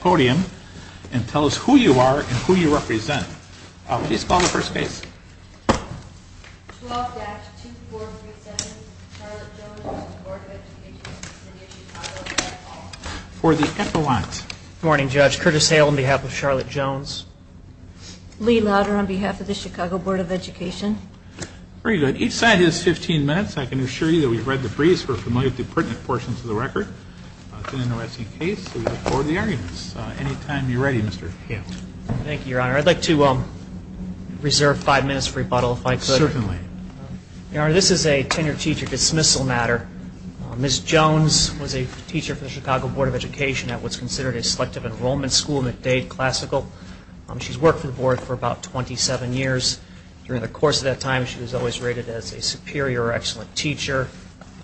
podium and tell us who you are and who you represent. Please call the first case. 12-2437, Charlotte Jones, Board of Education of the City of Chicago, for the epaulette. Good morning, Judge. Curtis Hale on behalf of Charlotte Jones. Lee Lauder on behalf of the Chicago Board of Education. Very good. Each side has 15 minutes. I can assure you that we've read the briefs. We're Any time you're ready, Mr. Hale. Thank you, Your Honor. I'd like to reserve five minutes for rebuttal, if I could. Certainly. Your Honor, this is a tenure teacher dismissal matter. Ms. Jones was a teacher for the Chicago Board of Education at what's considered a selective enrollment school, McDade Classical. She's worked for the board for about 27 years. During the course of that time, she was always rated as a superior or excellent teacher,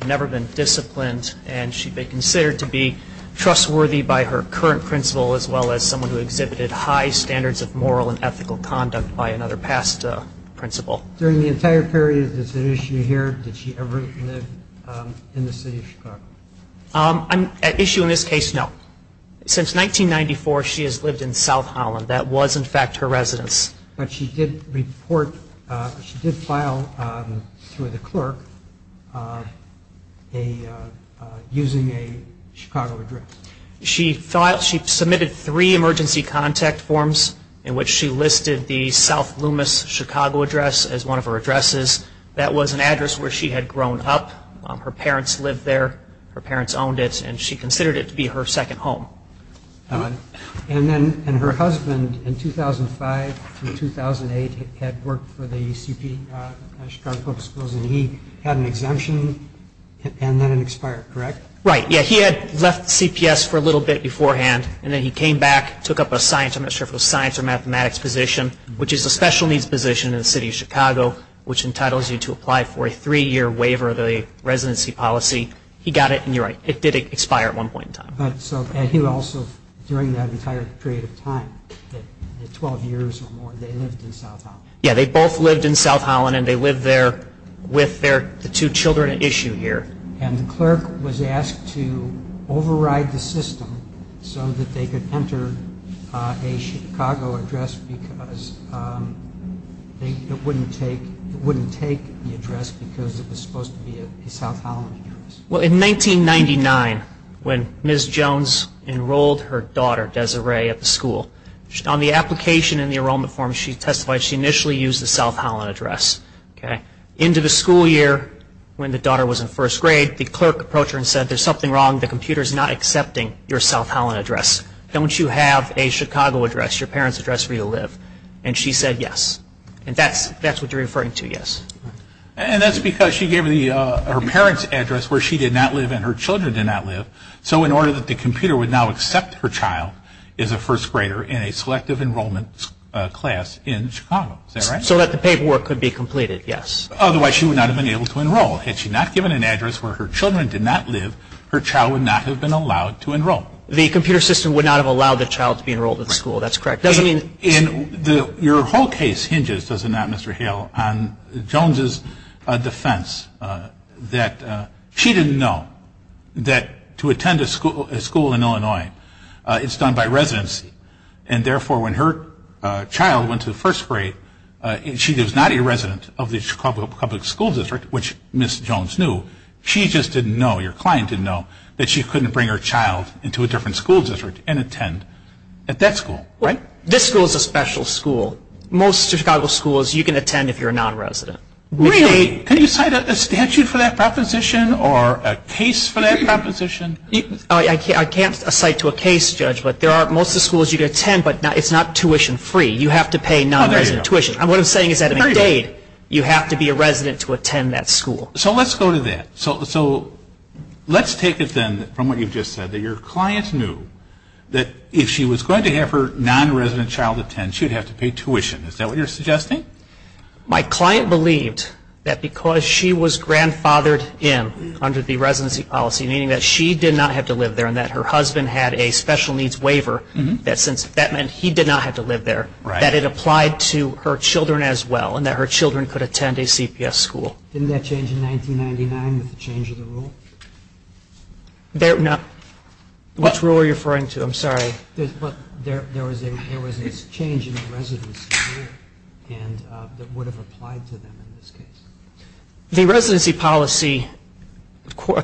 never been disciplined, and she'd been considered to be trustworthy by her current principal as well as someone who exhibited high standards of moral and ethical conduct by another past principal. During the entire period that she was here, did she ever live in the City of Chicago? An issue in this case, no. Since 1994, she has lived in South Holland. That was, in fact, her residence. But she did file through the clerk using a Chicago address. She submitted three emergency contact forms in which she listed the South Loomis Chicago address as one of her addresses. That was an address where she had grown up. Her parents lived there. Her parents owned it, and she considered it to be her second home. And her husband, in 2005 and 2008, had worked for the Chicago Public Schools, and he had an exemption and then it expired, correct? Right. Yeah, he had left CPS for a little bit beforehand, and then he came back, took up a science, I'm not sure if it was science or mathematics position, which is a special needs position in the City of Chicago, which entitles you to apply for a three-year waiver of the residency policy. He got it, and you're right, it did expire at one point in time. And he also, during that entire period of time, 12 years or more, they lived in South Holland. Yeah, they both lived in South Holland, and they lived there with the two children at issue here. And the clerk was asked to override the system so that they could enter a Chicago address because it wouldn't take the address because it was supposed to be a South Holland address. Well, in 1999, when Ms. Jones enrolled her daughter, Desiree, at the school, on the application in the enrollment form, she testified she initially used the South Holland address. Into the school year, when the daughter was in first grade, the clerk approached her and said, there's something wrong, the computer's not accepting your South Holland address. Don't you have a Chicago address, your parents' address, where you live? And she said yes. And that's what you're referring to, yes. And that's because she gave her parents' address where she did not live and her children did not live, so in order that the computer would now accept her child as a first grader in a selective enrollment class in Chicago. Is that right? So that the paperwork could be completed, yes. Otherwise, she would not have been able to enroll. Had she not given an address where her children did not live, her child would not have been allowed to enroll. The computer system would not have allowed the child to be enrolled at the school. That's correct. Your whole case hinges, does it not, Mr. Hale, on Jones' defense that she didn't know that to attend a school in Illinois, it's done by residency, and therefore when her child went to first grade, she was not a resident of the Chicago Public School District, which Ms. Jones knew. She just didn't know, your client didn't know, that she couldn't bring her child into a different school district and attend at that school. This school is a special school. Most Chicago schools you can attend if you're a non-resident. Really? Can you cite a statute for that proposition or a case for that proposition? I can't cite to a case, Judge, but most of the schools you can attend, but it's not tuition-free. You have to pay non-resident tuition. What I'm saying is that in a DADE, you have to be a resident to attend that school. So let's go to that. So let's take it, then, from what you've just said, that your client knew that if she was going to have her non-resident child attend, she would have to pay tuition. Is that what you're suggesting? My client believed that because she was grandfathered in under the residency policy, meaning that she did not have to live there and that her husband had a special needs waiver, that since that meant he did not have to live there, that it applied to her children as well and that her children could attend a CPS school. Didn't that change in 1999 with the change of the rule? Which rule are you referring to? I'm sorry. There was this change in the residency rule that would have applied to them in this case. The residency policy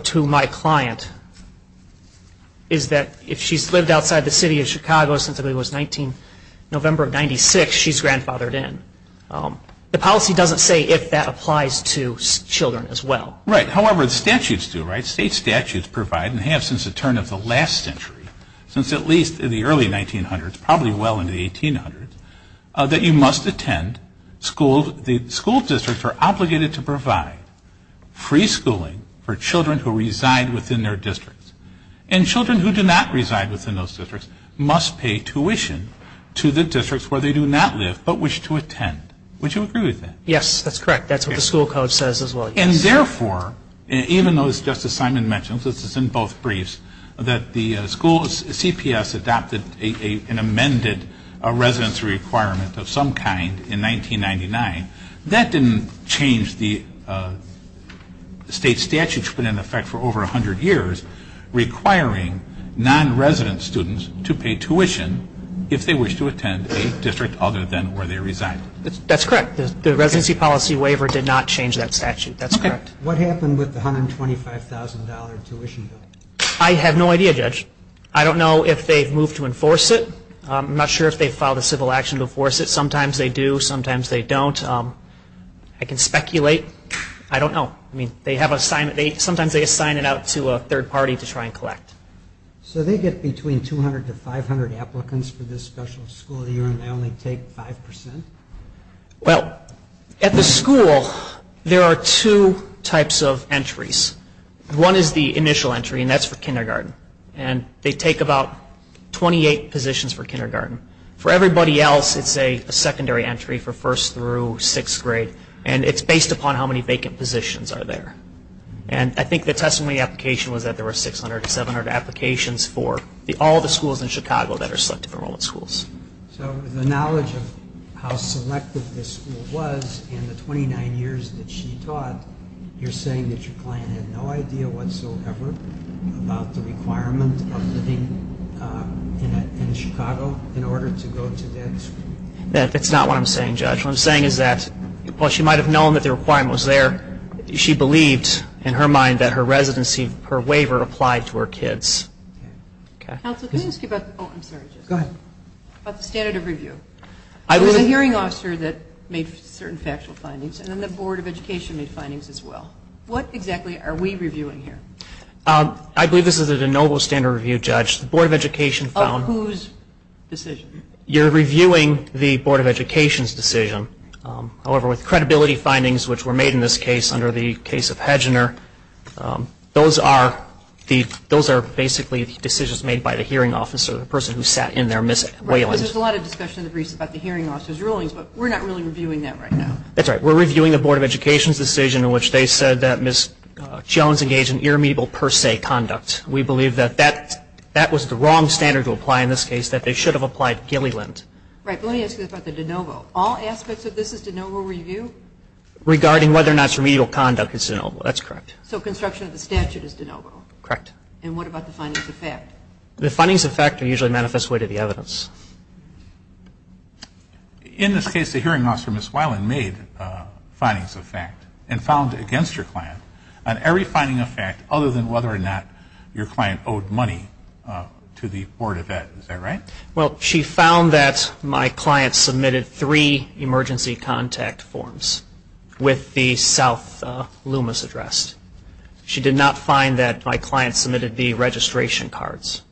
to my client is that if she's lived outside the city of Chicago since November of 1996, she's grandfathered in. The policy doesn't say if that applies to children as well. Right. However, the statutes do, right? State statutes provide and have since the turn of the last century, since at least in the early 1900s, probably well into the 1800s, that you must attend school. The school districts are obligated to provide free schooling for children who reside within their districts. And children who do not reside within those districts must pay tuition to the districts where they do not live but wish to attend. Would you agree with that? Yes, that's correct. That's what the school code says as well, yes. And therefore, even though, as Justice Simon mentions, this is in both briefs, that the school's CPS adopted an amended residency requirement of some kind in 1999, that didn't change the state statutes put in effect for over 100 years requiring non-resident students to pay tuition if they wish to attend a district other than where they reside. That's correct. The residency policy waiver did not change that statute. That's correct. What happened with the $125,000 tuition bill? I have no idea, Judge. I don't know if they've moved to enforce it. I'm not sure if they've filed a civil action to enforce it. Sometimes they do. Sometimes they don't. I can speculate. I don't know. Sometimes they assign it out to a third party to try and collect. So they get between 200 to 500 applicants for this special school year and they only take 5%? Well, at the school, there are two types of entries. One is the initial entry, and that's for kindergarten. They take about 28 positions for kindergarten. For everybody else, it's a secondary entry for first through sixth grade, and it's based upon how many vacant positions are there. And I think the testimony application was that there were 600 to 700 applications for all the schools in Chicago that are selective enrollment schools. So the knowledge of how selective this school was in the 29 years that she taught, you're saying that your client had no idea whatsoever about the requirement of living in Chicago in order to go to that school? That's not what I'm saying, Judge. What I'm saying is that while she might have known that the requirement was there, she believed in her mind that her residency, her waiver, applied to her kids. Counsel, can we ask you about the standard of review? There was a hearing officer that made certain factual findings, and then the Board of Education made findings as well. What exactly are we reviewing here? I believe this is a de novo standard review, Judge. The Board of Education found... Of whose decision? You're reviewing the Board of Education's decision. However, with credibility findings, which were made in this case under the case of Hedgener, those are basically decisions made by the hearing officer, the person who sat in there, Ms. Wayland. Right, because there's a lot of discussion in the briefs about the hearing officer's rulings, but we're not really reviewing that right now. That's right. We're reviewing the Board of Education's decision in which they said that Ms. Jones engaged in irremediable per se conduct. We believe that that was the wrong standard to apply in this case, that they should have applied Gilliland. Right, but let me ask you about the de novo. All aspects of this is de novo review? Regarding whether or not it's remedial conduct is de novo. That's correct. So construction of the statute is de novo? Correct. And what about the findings of fact? The findings of fact are usually manifest way to the evidence. In this case, the hearing officer, Ms. Wayland, made findings of fact and found against her client on every finding of fact other than whether or not your client owed money to the Board of Ed. Is that right? Well, she found that my client submitted three emergency contact forms with the South Loomis address. She did not find that my client submitted the registration cards.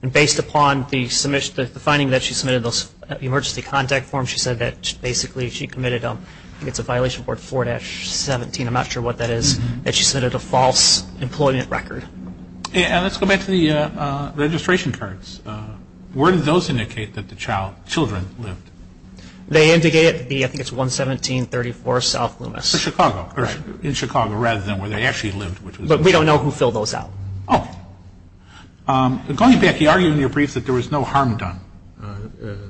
And based upon the finding that she submitted those emergency contact forms, she said that basically she committed, I think it's a violation of Part 4-17, I'm not sure what that is, that she submitted a false employment record. And let's go back to the registration cards. Where did those indicate that the children lived? They indicated it to be, I think it's 11734 South Loomis. For Chicago, right, in Chicago rather than where they actually lived. But we don't know who filled those out. Oh. Going back, you argue in your brief that there was no harm done,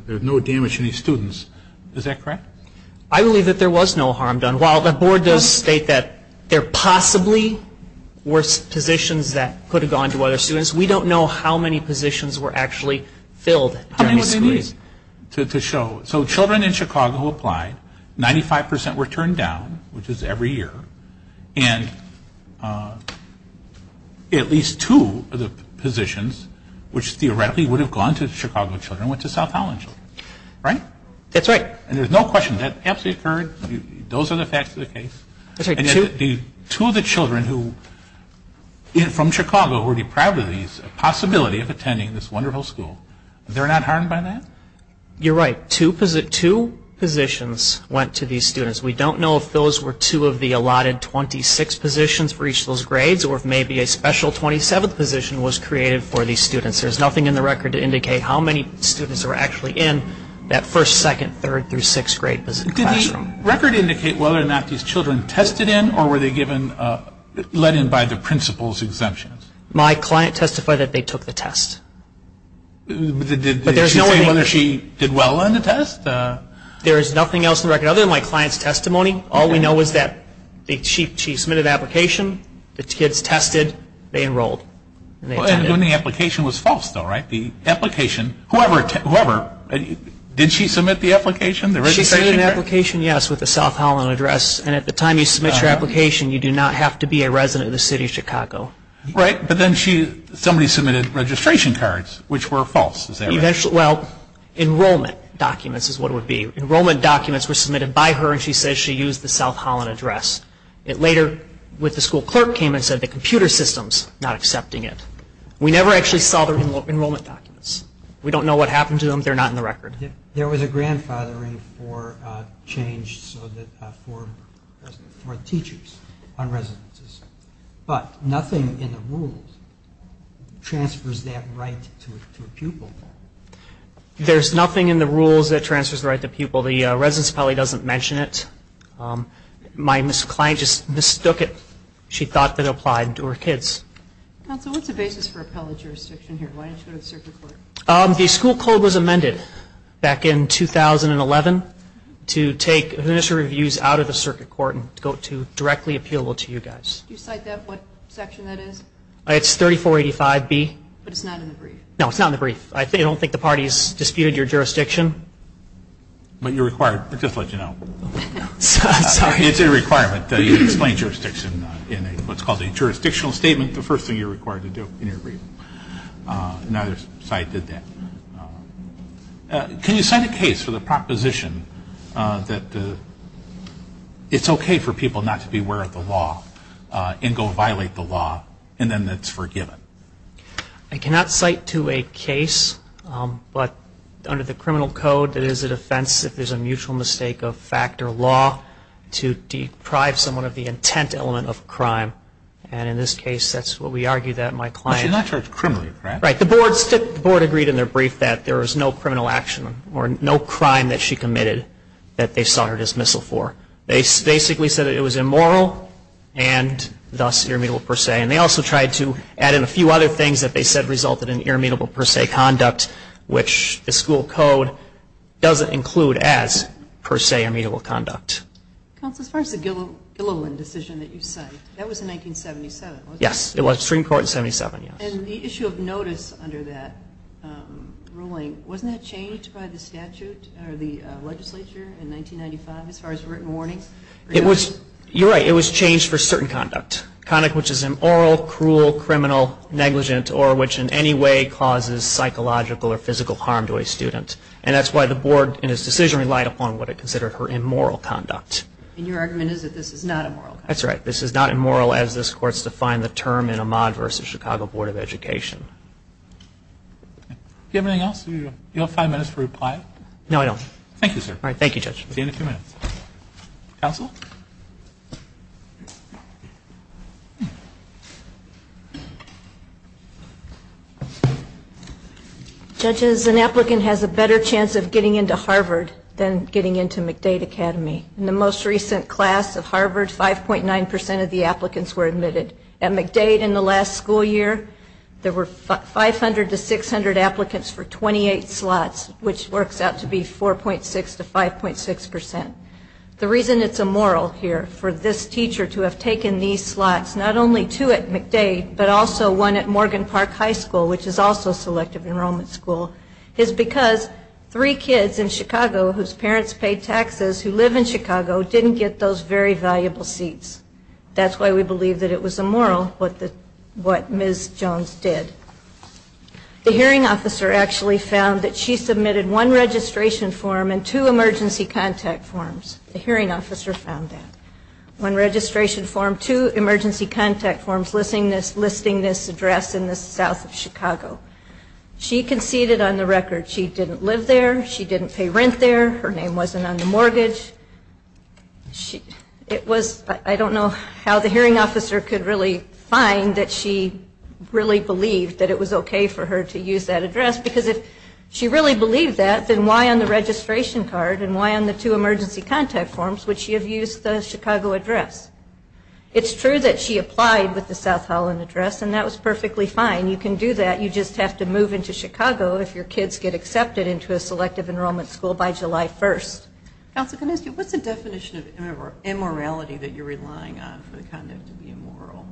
there was no damage to any students. Is that correct? I believe that there was no harm done. While the Board does state that there possibly were positions that could have gone to other students, we don't know how many positions were actually filled. How many would they need to show? So children in Chicago applied, 95% were turned down, which is every year, and at least two of the positions, which theoretically would have gone to Chicago children, went to South Holland children. Right? That's right. And there's no question, that absolutely occurred, those are the facts of the case. Two of the children who, from Chicago, were deprived of these, a possibility of attending this wonderful school, they're not harmed by that? You're right. Two positions went to these students. We don't know if those were two of the allotted 26 positions for each of those grades or if maybe a special 27th position was created for these students. There's nothing in the record to indicate how many students were actually in that first, second, third, through sixth grade classroom. Did the record indicate whether or not these children tested in or were they given, let in by the principal's exemptions? My client testified that they took the test. Did she say whether she did well on the test? There is nothing else in the record other than my client's testimony. All we know is that she submitted the application, the kids tested, they enrolled. And the application was false though, right? The application, whoever, did she submit the application? She submitted the application, yes, with the South Holland address. And at the time you submit your application, you do not have to be a resident of the city of Chicago. Right, but then somebody submitted registration cards, which were false. Well, enrollment documents is what it would be. Enrollment documents were submitted by her and she said she used the South Holland address. It later, with the school clerk, came and said the computer system's not accepting it. We never actually saw the enrollment documents. We don't know what happened to them. They're not in the record. There was a grandfathering for change for teachers on residences, but nothing in the rules transfers that right to a pupil. There's nothing in the rules that transfers the right to a pupil. The residence probably doesn't mention it. My client just mistook it. She thought that it applied to her kids. Counsel, what's the basis for appellate jurisdiction here? Why didn't you go to the circuit court? The school code was amended back in 2011 to take initial reviews out of the circuit court and go to directly appealable to you guys. Do you cite that, what section that is? It's 3485B. But it's not in the brief. No, it's not in the brief. I don't think the parties disputed your jurisdiction. But you're required. I'll just let you know. I'm sorry. It's a requirement. You explain jurisdiction in what's called a jurisdictional statement, the first thing you're required to do in your brief. Neither side did that. Can you cite a case for the proposition that it's okay for people not to be aware of the law and go violate the law, and then that's forgiven? I cannot cite to a case, but under the criminal code, it is a defense if there's a mutual mistake of fact or law to deprive someone of the intent element of crime. And in this case, that's what we argue that my client. But you're not charged criminally, correct? Right. The board agreed in their brief that there was no criminal action or no crime that she committed that they saw her dismissal for. They basically said it was immoral and thus irremediable per se. And they also tried to add in a few other things that they said resulted in irremediable per se conduct, which the school code doesn't include as, per se, irremediable conduct. Counsel, as far as the Gilliland decision that you cite, that was in 1977, wasn't it? Yes, it was. Supreme Court in 77, yes. And the issue of notice under that ruling, wasn't that changed by the statute or the legislature in 1995 as far as written warnings? You're right. It was changed for certain conduct, conduct which is immoral, cruel, criminal, negligent, or which in any way causes psychological or physical harm to a student. And that's why the board in its decision relied upon what it considered her immoral conduct. And your argument is that this is not immoral? That's right. This is not immoral as this Court's defined the term in Ahmad v. Chicago Board of Education. Do you have anything else? Do you have five minutes to reply? No, I don't. Thank you, sir. All right. Thank you, Judge. See you in a few minutes. Counsel? Judges, an applicant has a better chance of getting into Harvard than getting into McDade Academy. In the most recent class of Harvard, 5.9 percent of the applicants were admitted. At McDade in the last school year, there were 500 to 600 applicants for 28 slots, which works out to be 4.6 to 5.6 percent. The reason it's immoral here for this teacher to have taken these slots, not only two at McDade but also one at Morgan Park High School, which is also selective enrollment school, is because three kids in Chicago whose parents paid taxes who live in Chicago didn't get those very valuable seats. That's why we believe that it was immoral what Ms. Jones did. The hearing officer actually found that she submitted one registration form and two emergency contact forms. The hearing officer found that. One registration form, two emergency contact forms listing this address in the south of Chicago. She conceded on the record she didn't live there, she didn't pay rent there, her name wasn't on the mortgage. I don't know how the hearing officer could really find that she really believed that it was okay for her to use that address, because if she really believed that, then why on the registration card and why on the two emergency contact forms would she have used the Chicago address? It's true that she applied with the South Holland address, and that was perfectly fine. You can do that. You just have to move into Chicago if your kids get accepted into a selective enrollment school by July 1st. Counsel, can I ask you, what's the definition of immorality that you're relying on for the conduct to be immoral?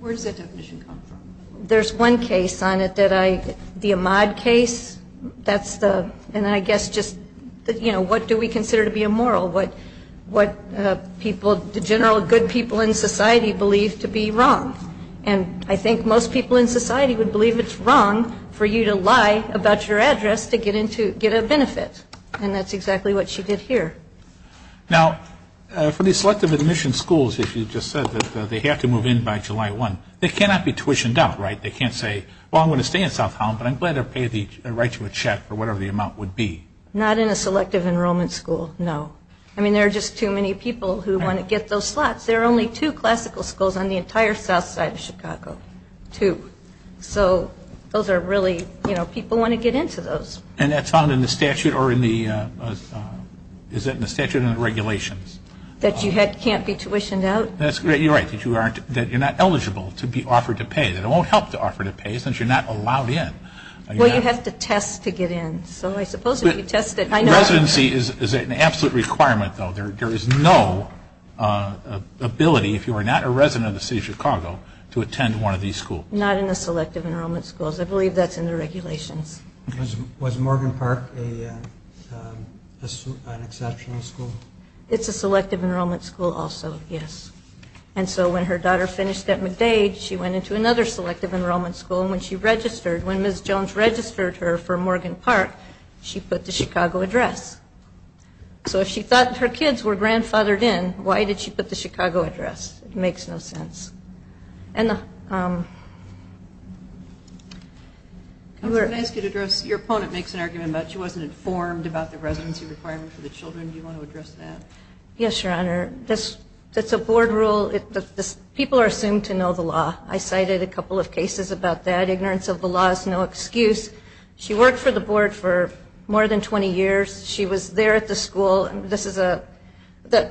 Where does that definition come from? There's one case on it that I, the Ahmaud case, that's the, and I guess just, you know, what do we consider to be immoral, what people, the general good people in society believe to be wrong. And I think most people in society would believe it's wrong for you to lie about your address to get a benefit. And that's exactly what she did here. Now, for the selective admission schools, as you just said, they have to move in by July 1. They cannot be tuitioned out, right? They can't say, well, I'm going to stay in South Holland, but I'm glad they're paid the right to a check for whatever the amount would be. Not in a selective enrollment school, no. I mean, there are just too many people who want to get those slots. There are only two classical schools on the entire south side of Chicago, two. So those are really, you know, people want to get into those. And that's found in the statute or in the, is that in the statute or in the regulations? That you can't be tuitioned out. You're right, that you're not eligible to be offered to pay. That it won't help to offer to pay since you're not allowed in. Well, you have to test to get in. So I suppose if you test it, I know. Residency is an absolute requirement, though. There is no ability, if you are not a resident of the city of Chicago, to attend one of these schools. Not in the selective enrollment schools. I believe that's in the regulations. Was Morgan Park an exceptional school? It's a selective enrollment school also, yes. And so when her daughter finished at McDade, she went into another selective enrollment school. And when she registered, when Ms. Jones registered her for Morgan Park, she put the Chicago address. So if she thought her kids were grandfathered in, why did she put the Chicago address? It makes no sense. I was going to ask you to address, your opponent makes an argument about she wasn't informed about the residency requirement for the children. Do you want to address that? Yes, Your Honor. That's a board rule. People are assumed to know the law. I cited a couple of cases about that. Ignorance of the law is no excuse. She worked for the board for more than 20 years. She was there at the school.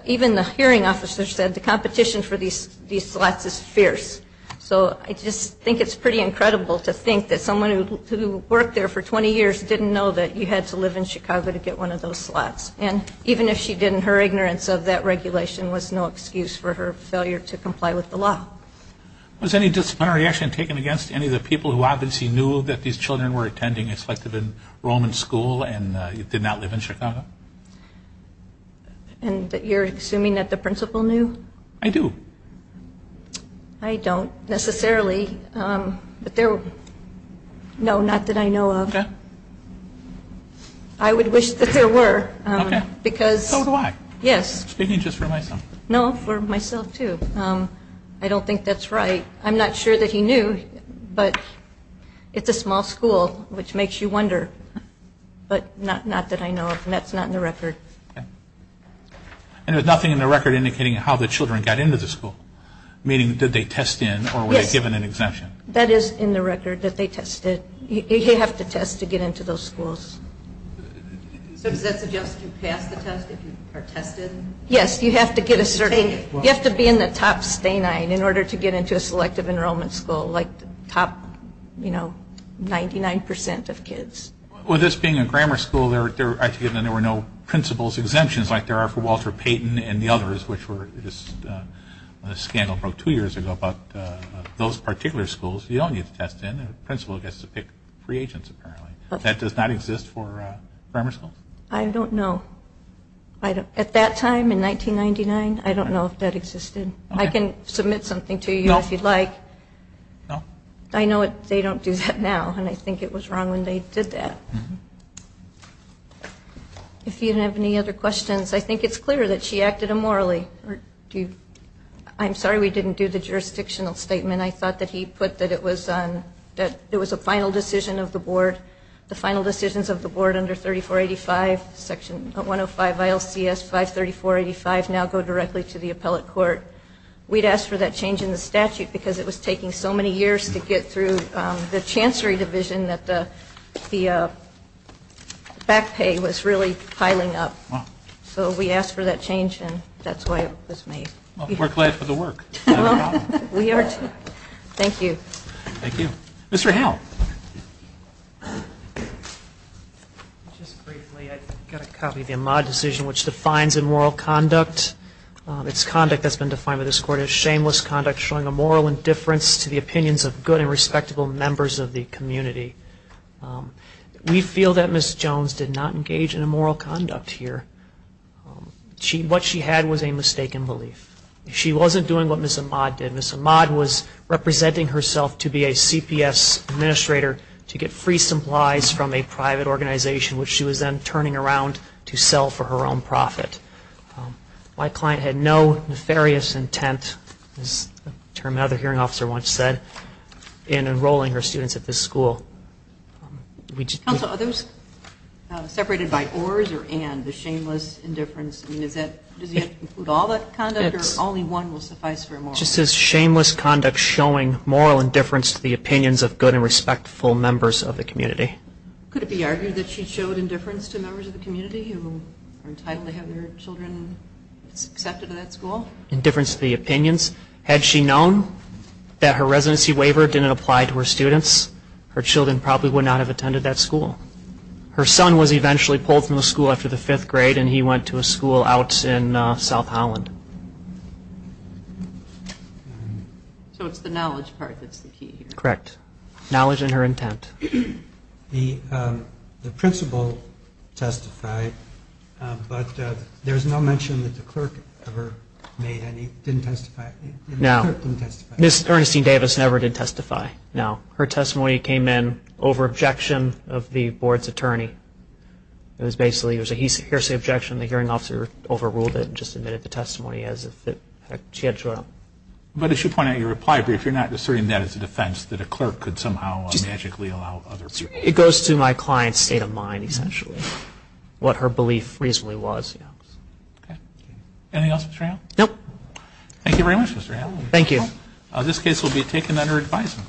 Even the hearing officer said the competition for these slots is fierce. So I just think it's pretty incredible to think that someone who worked there for 20 years didn't know that you had to live in Chicago to get one of those slots. And even if she didn't, her ignorance of that regulation was no excuse for her failure to comply with the law. Was any disciplinary action taken against any of the people who obviously knew that these children were attending a selective enrollment school and did not live in Chicago? You're assuming that the principal knew? I do. I don't necessarily. No, not that I know of. Okay. I would wish that there were. So do I. Yes. Speaking just for myself. No, for myself too. I don't think that's right. I'm not sure that he knew, but it's a small school, which makes you wonder. But not that I know of, and that's not in the record. And there's nothing in the record indicating how the children got into the school, meaning did they test in or were they given an exemption? Yes, that is in the record that they tested. You have to test to get into those schools. So does that suggest you pass the test if you are tested? Yes, you have to be in the top stain line in order to get into a selective enrollment school, like the top 99% of kids. Well, this being a grammar school, there were no principal's exemptions like there are for Walter Payton and the others, which were a scandal about two years ago. But those particular schools, you don't need to test in. The principal gets to pick free agents apparently. That does not exist for grammar schools? I don't know. At that time in 1999, I don't know if that existed. I can submit something to you if you'd like. I know they don't do that now, and I think it was wrong when they did that. If you have any other questions, I think it's clear that she acted immorally. I'm sorry we didn't do the jurisdictional statement. I thought that he put that it was a final decision of the board. The final decisions of the board under 3485, Section 105 ILCS 53485, now go directly to the appellate court. We'd asked for that change in the statute because it was taking so many years to get through the chancellery division that the back pay was really piling up. Wow. So we asked for that change, and that's why it was made. Well, we're glad for the work. Thank you. Thank you. Mr. Howell. Just briefly, I've got a copy of the Ahmaud decision, which defines immoral conduct. It's conduct that's been defined by this court as shameless conduct, showing a moral indifference to the opinions of good and respectable members of the community. We feel that Ms. Jones did not engage in immoral conduct here. What she had was a mistaken belief. She wasn't doing what Ms. Ahmaud did. Ms. Ahmaud was representing herself to be a CPS administrator to get free supplies from a private organization, which she was then turning around to sell for her own profit. My client had no nefarious intent, as a term another hearing officer once said, in enrolling her students at this school. Counsel, are those separated by ors or and, the shameless indifference? I mean, does that include all that conduct or only one will suffice for a moral? It just says shameless conduct showing moral indifference to the opinions of good and respectful members of the community. Could it be argued that she showed indifference to members of the community who are entitled to have their children accepted at that school? Indifference to the opinions. Had she known that her residency waiver didn't apply to her students, her children probably would not have attended that school. Her son was eventually pulled from the school after the fifth grade, and he went to a school out in South Holland. So it's the knowledge part that's the key here. Correct. Knowledge and her intent. The principal testified, but there's no mention that the clerk ever made any, didn't testify. No. The clerk didn't testify. Ms. Ernestine Davis never did testify, no. Her testimony came in over objection of the board's attorney. It was basically, here's the objection, the hearing officer overruled it and just admitted the testimony as if she had showed up. But as you point out in your reply brief, you're not asserting that as a defense, that a clerk could somehow magically allow other people to testify. It goes to my client's state of mind, essentially, what her belief reasonably was. Okay. Anything else, Mr. Allen? No. Thank you very much, Mr. Allen. Thank you. This case will be taken under advisement.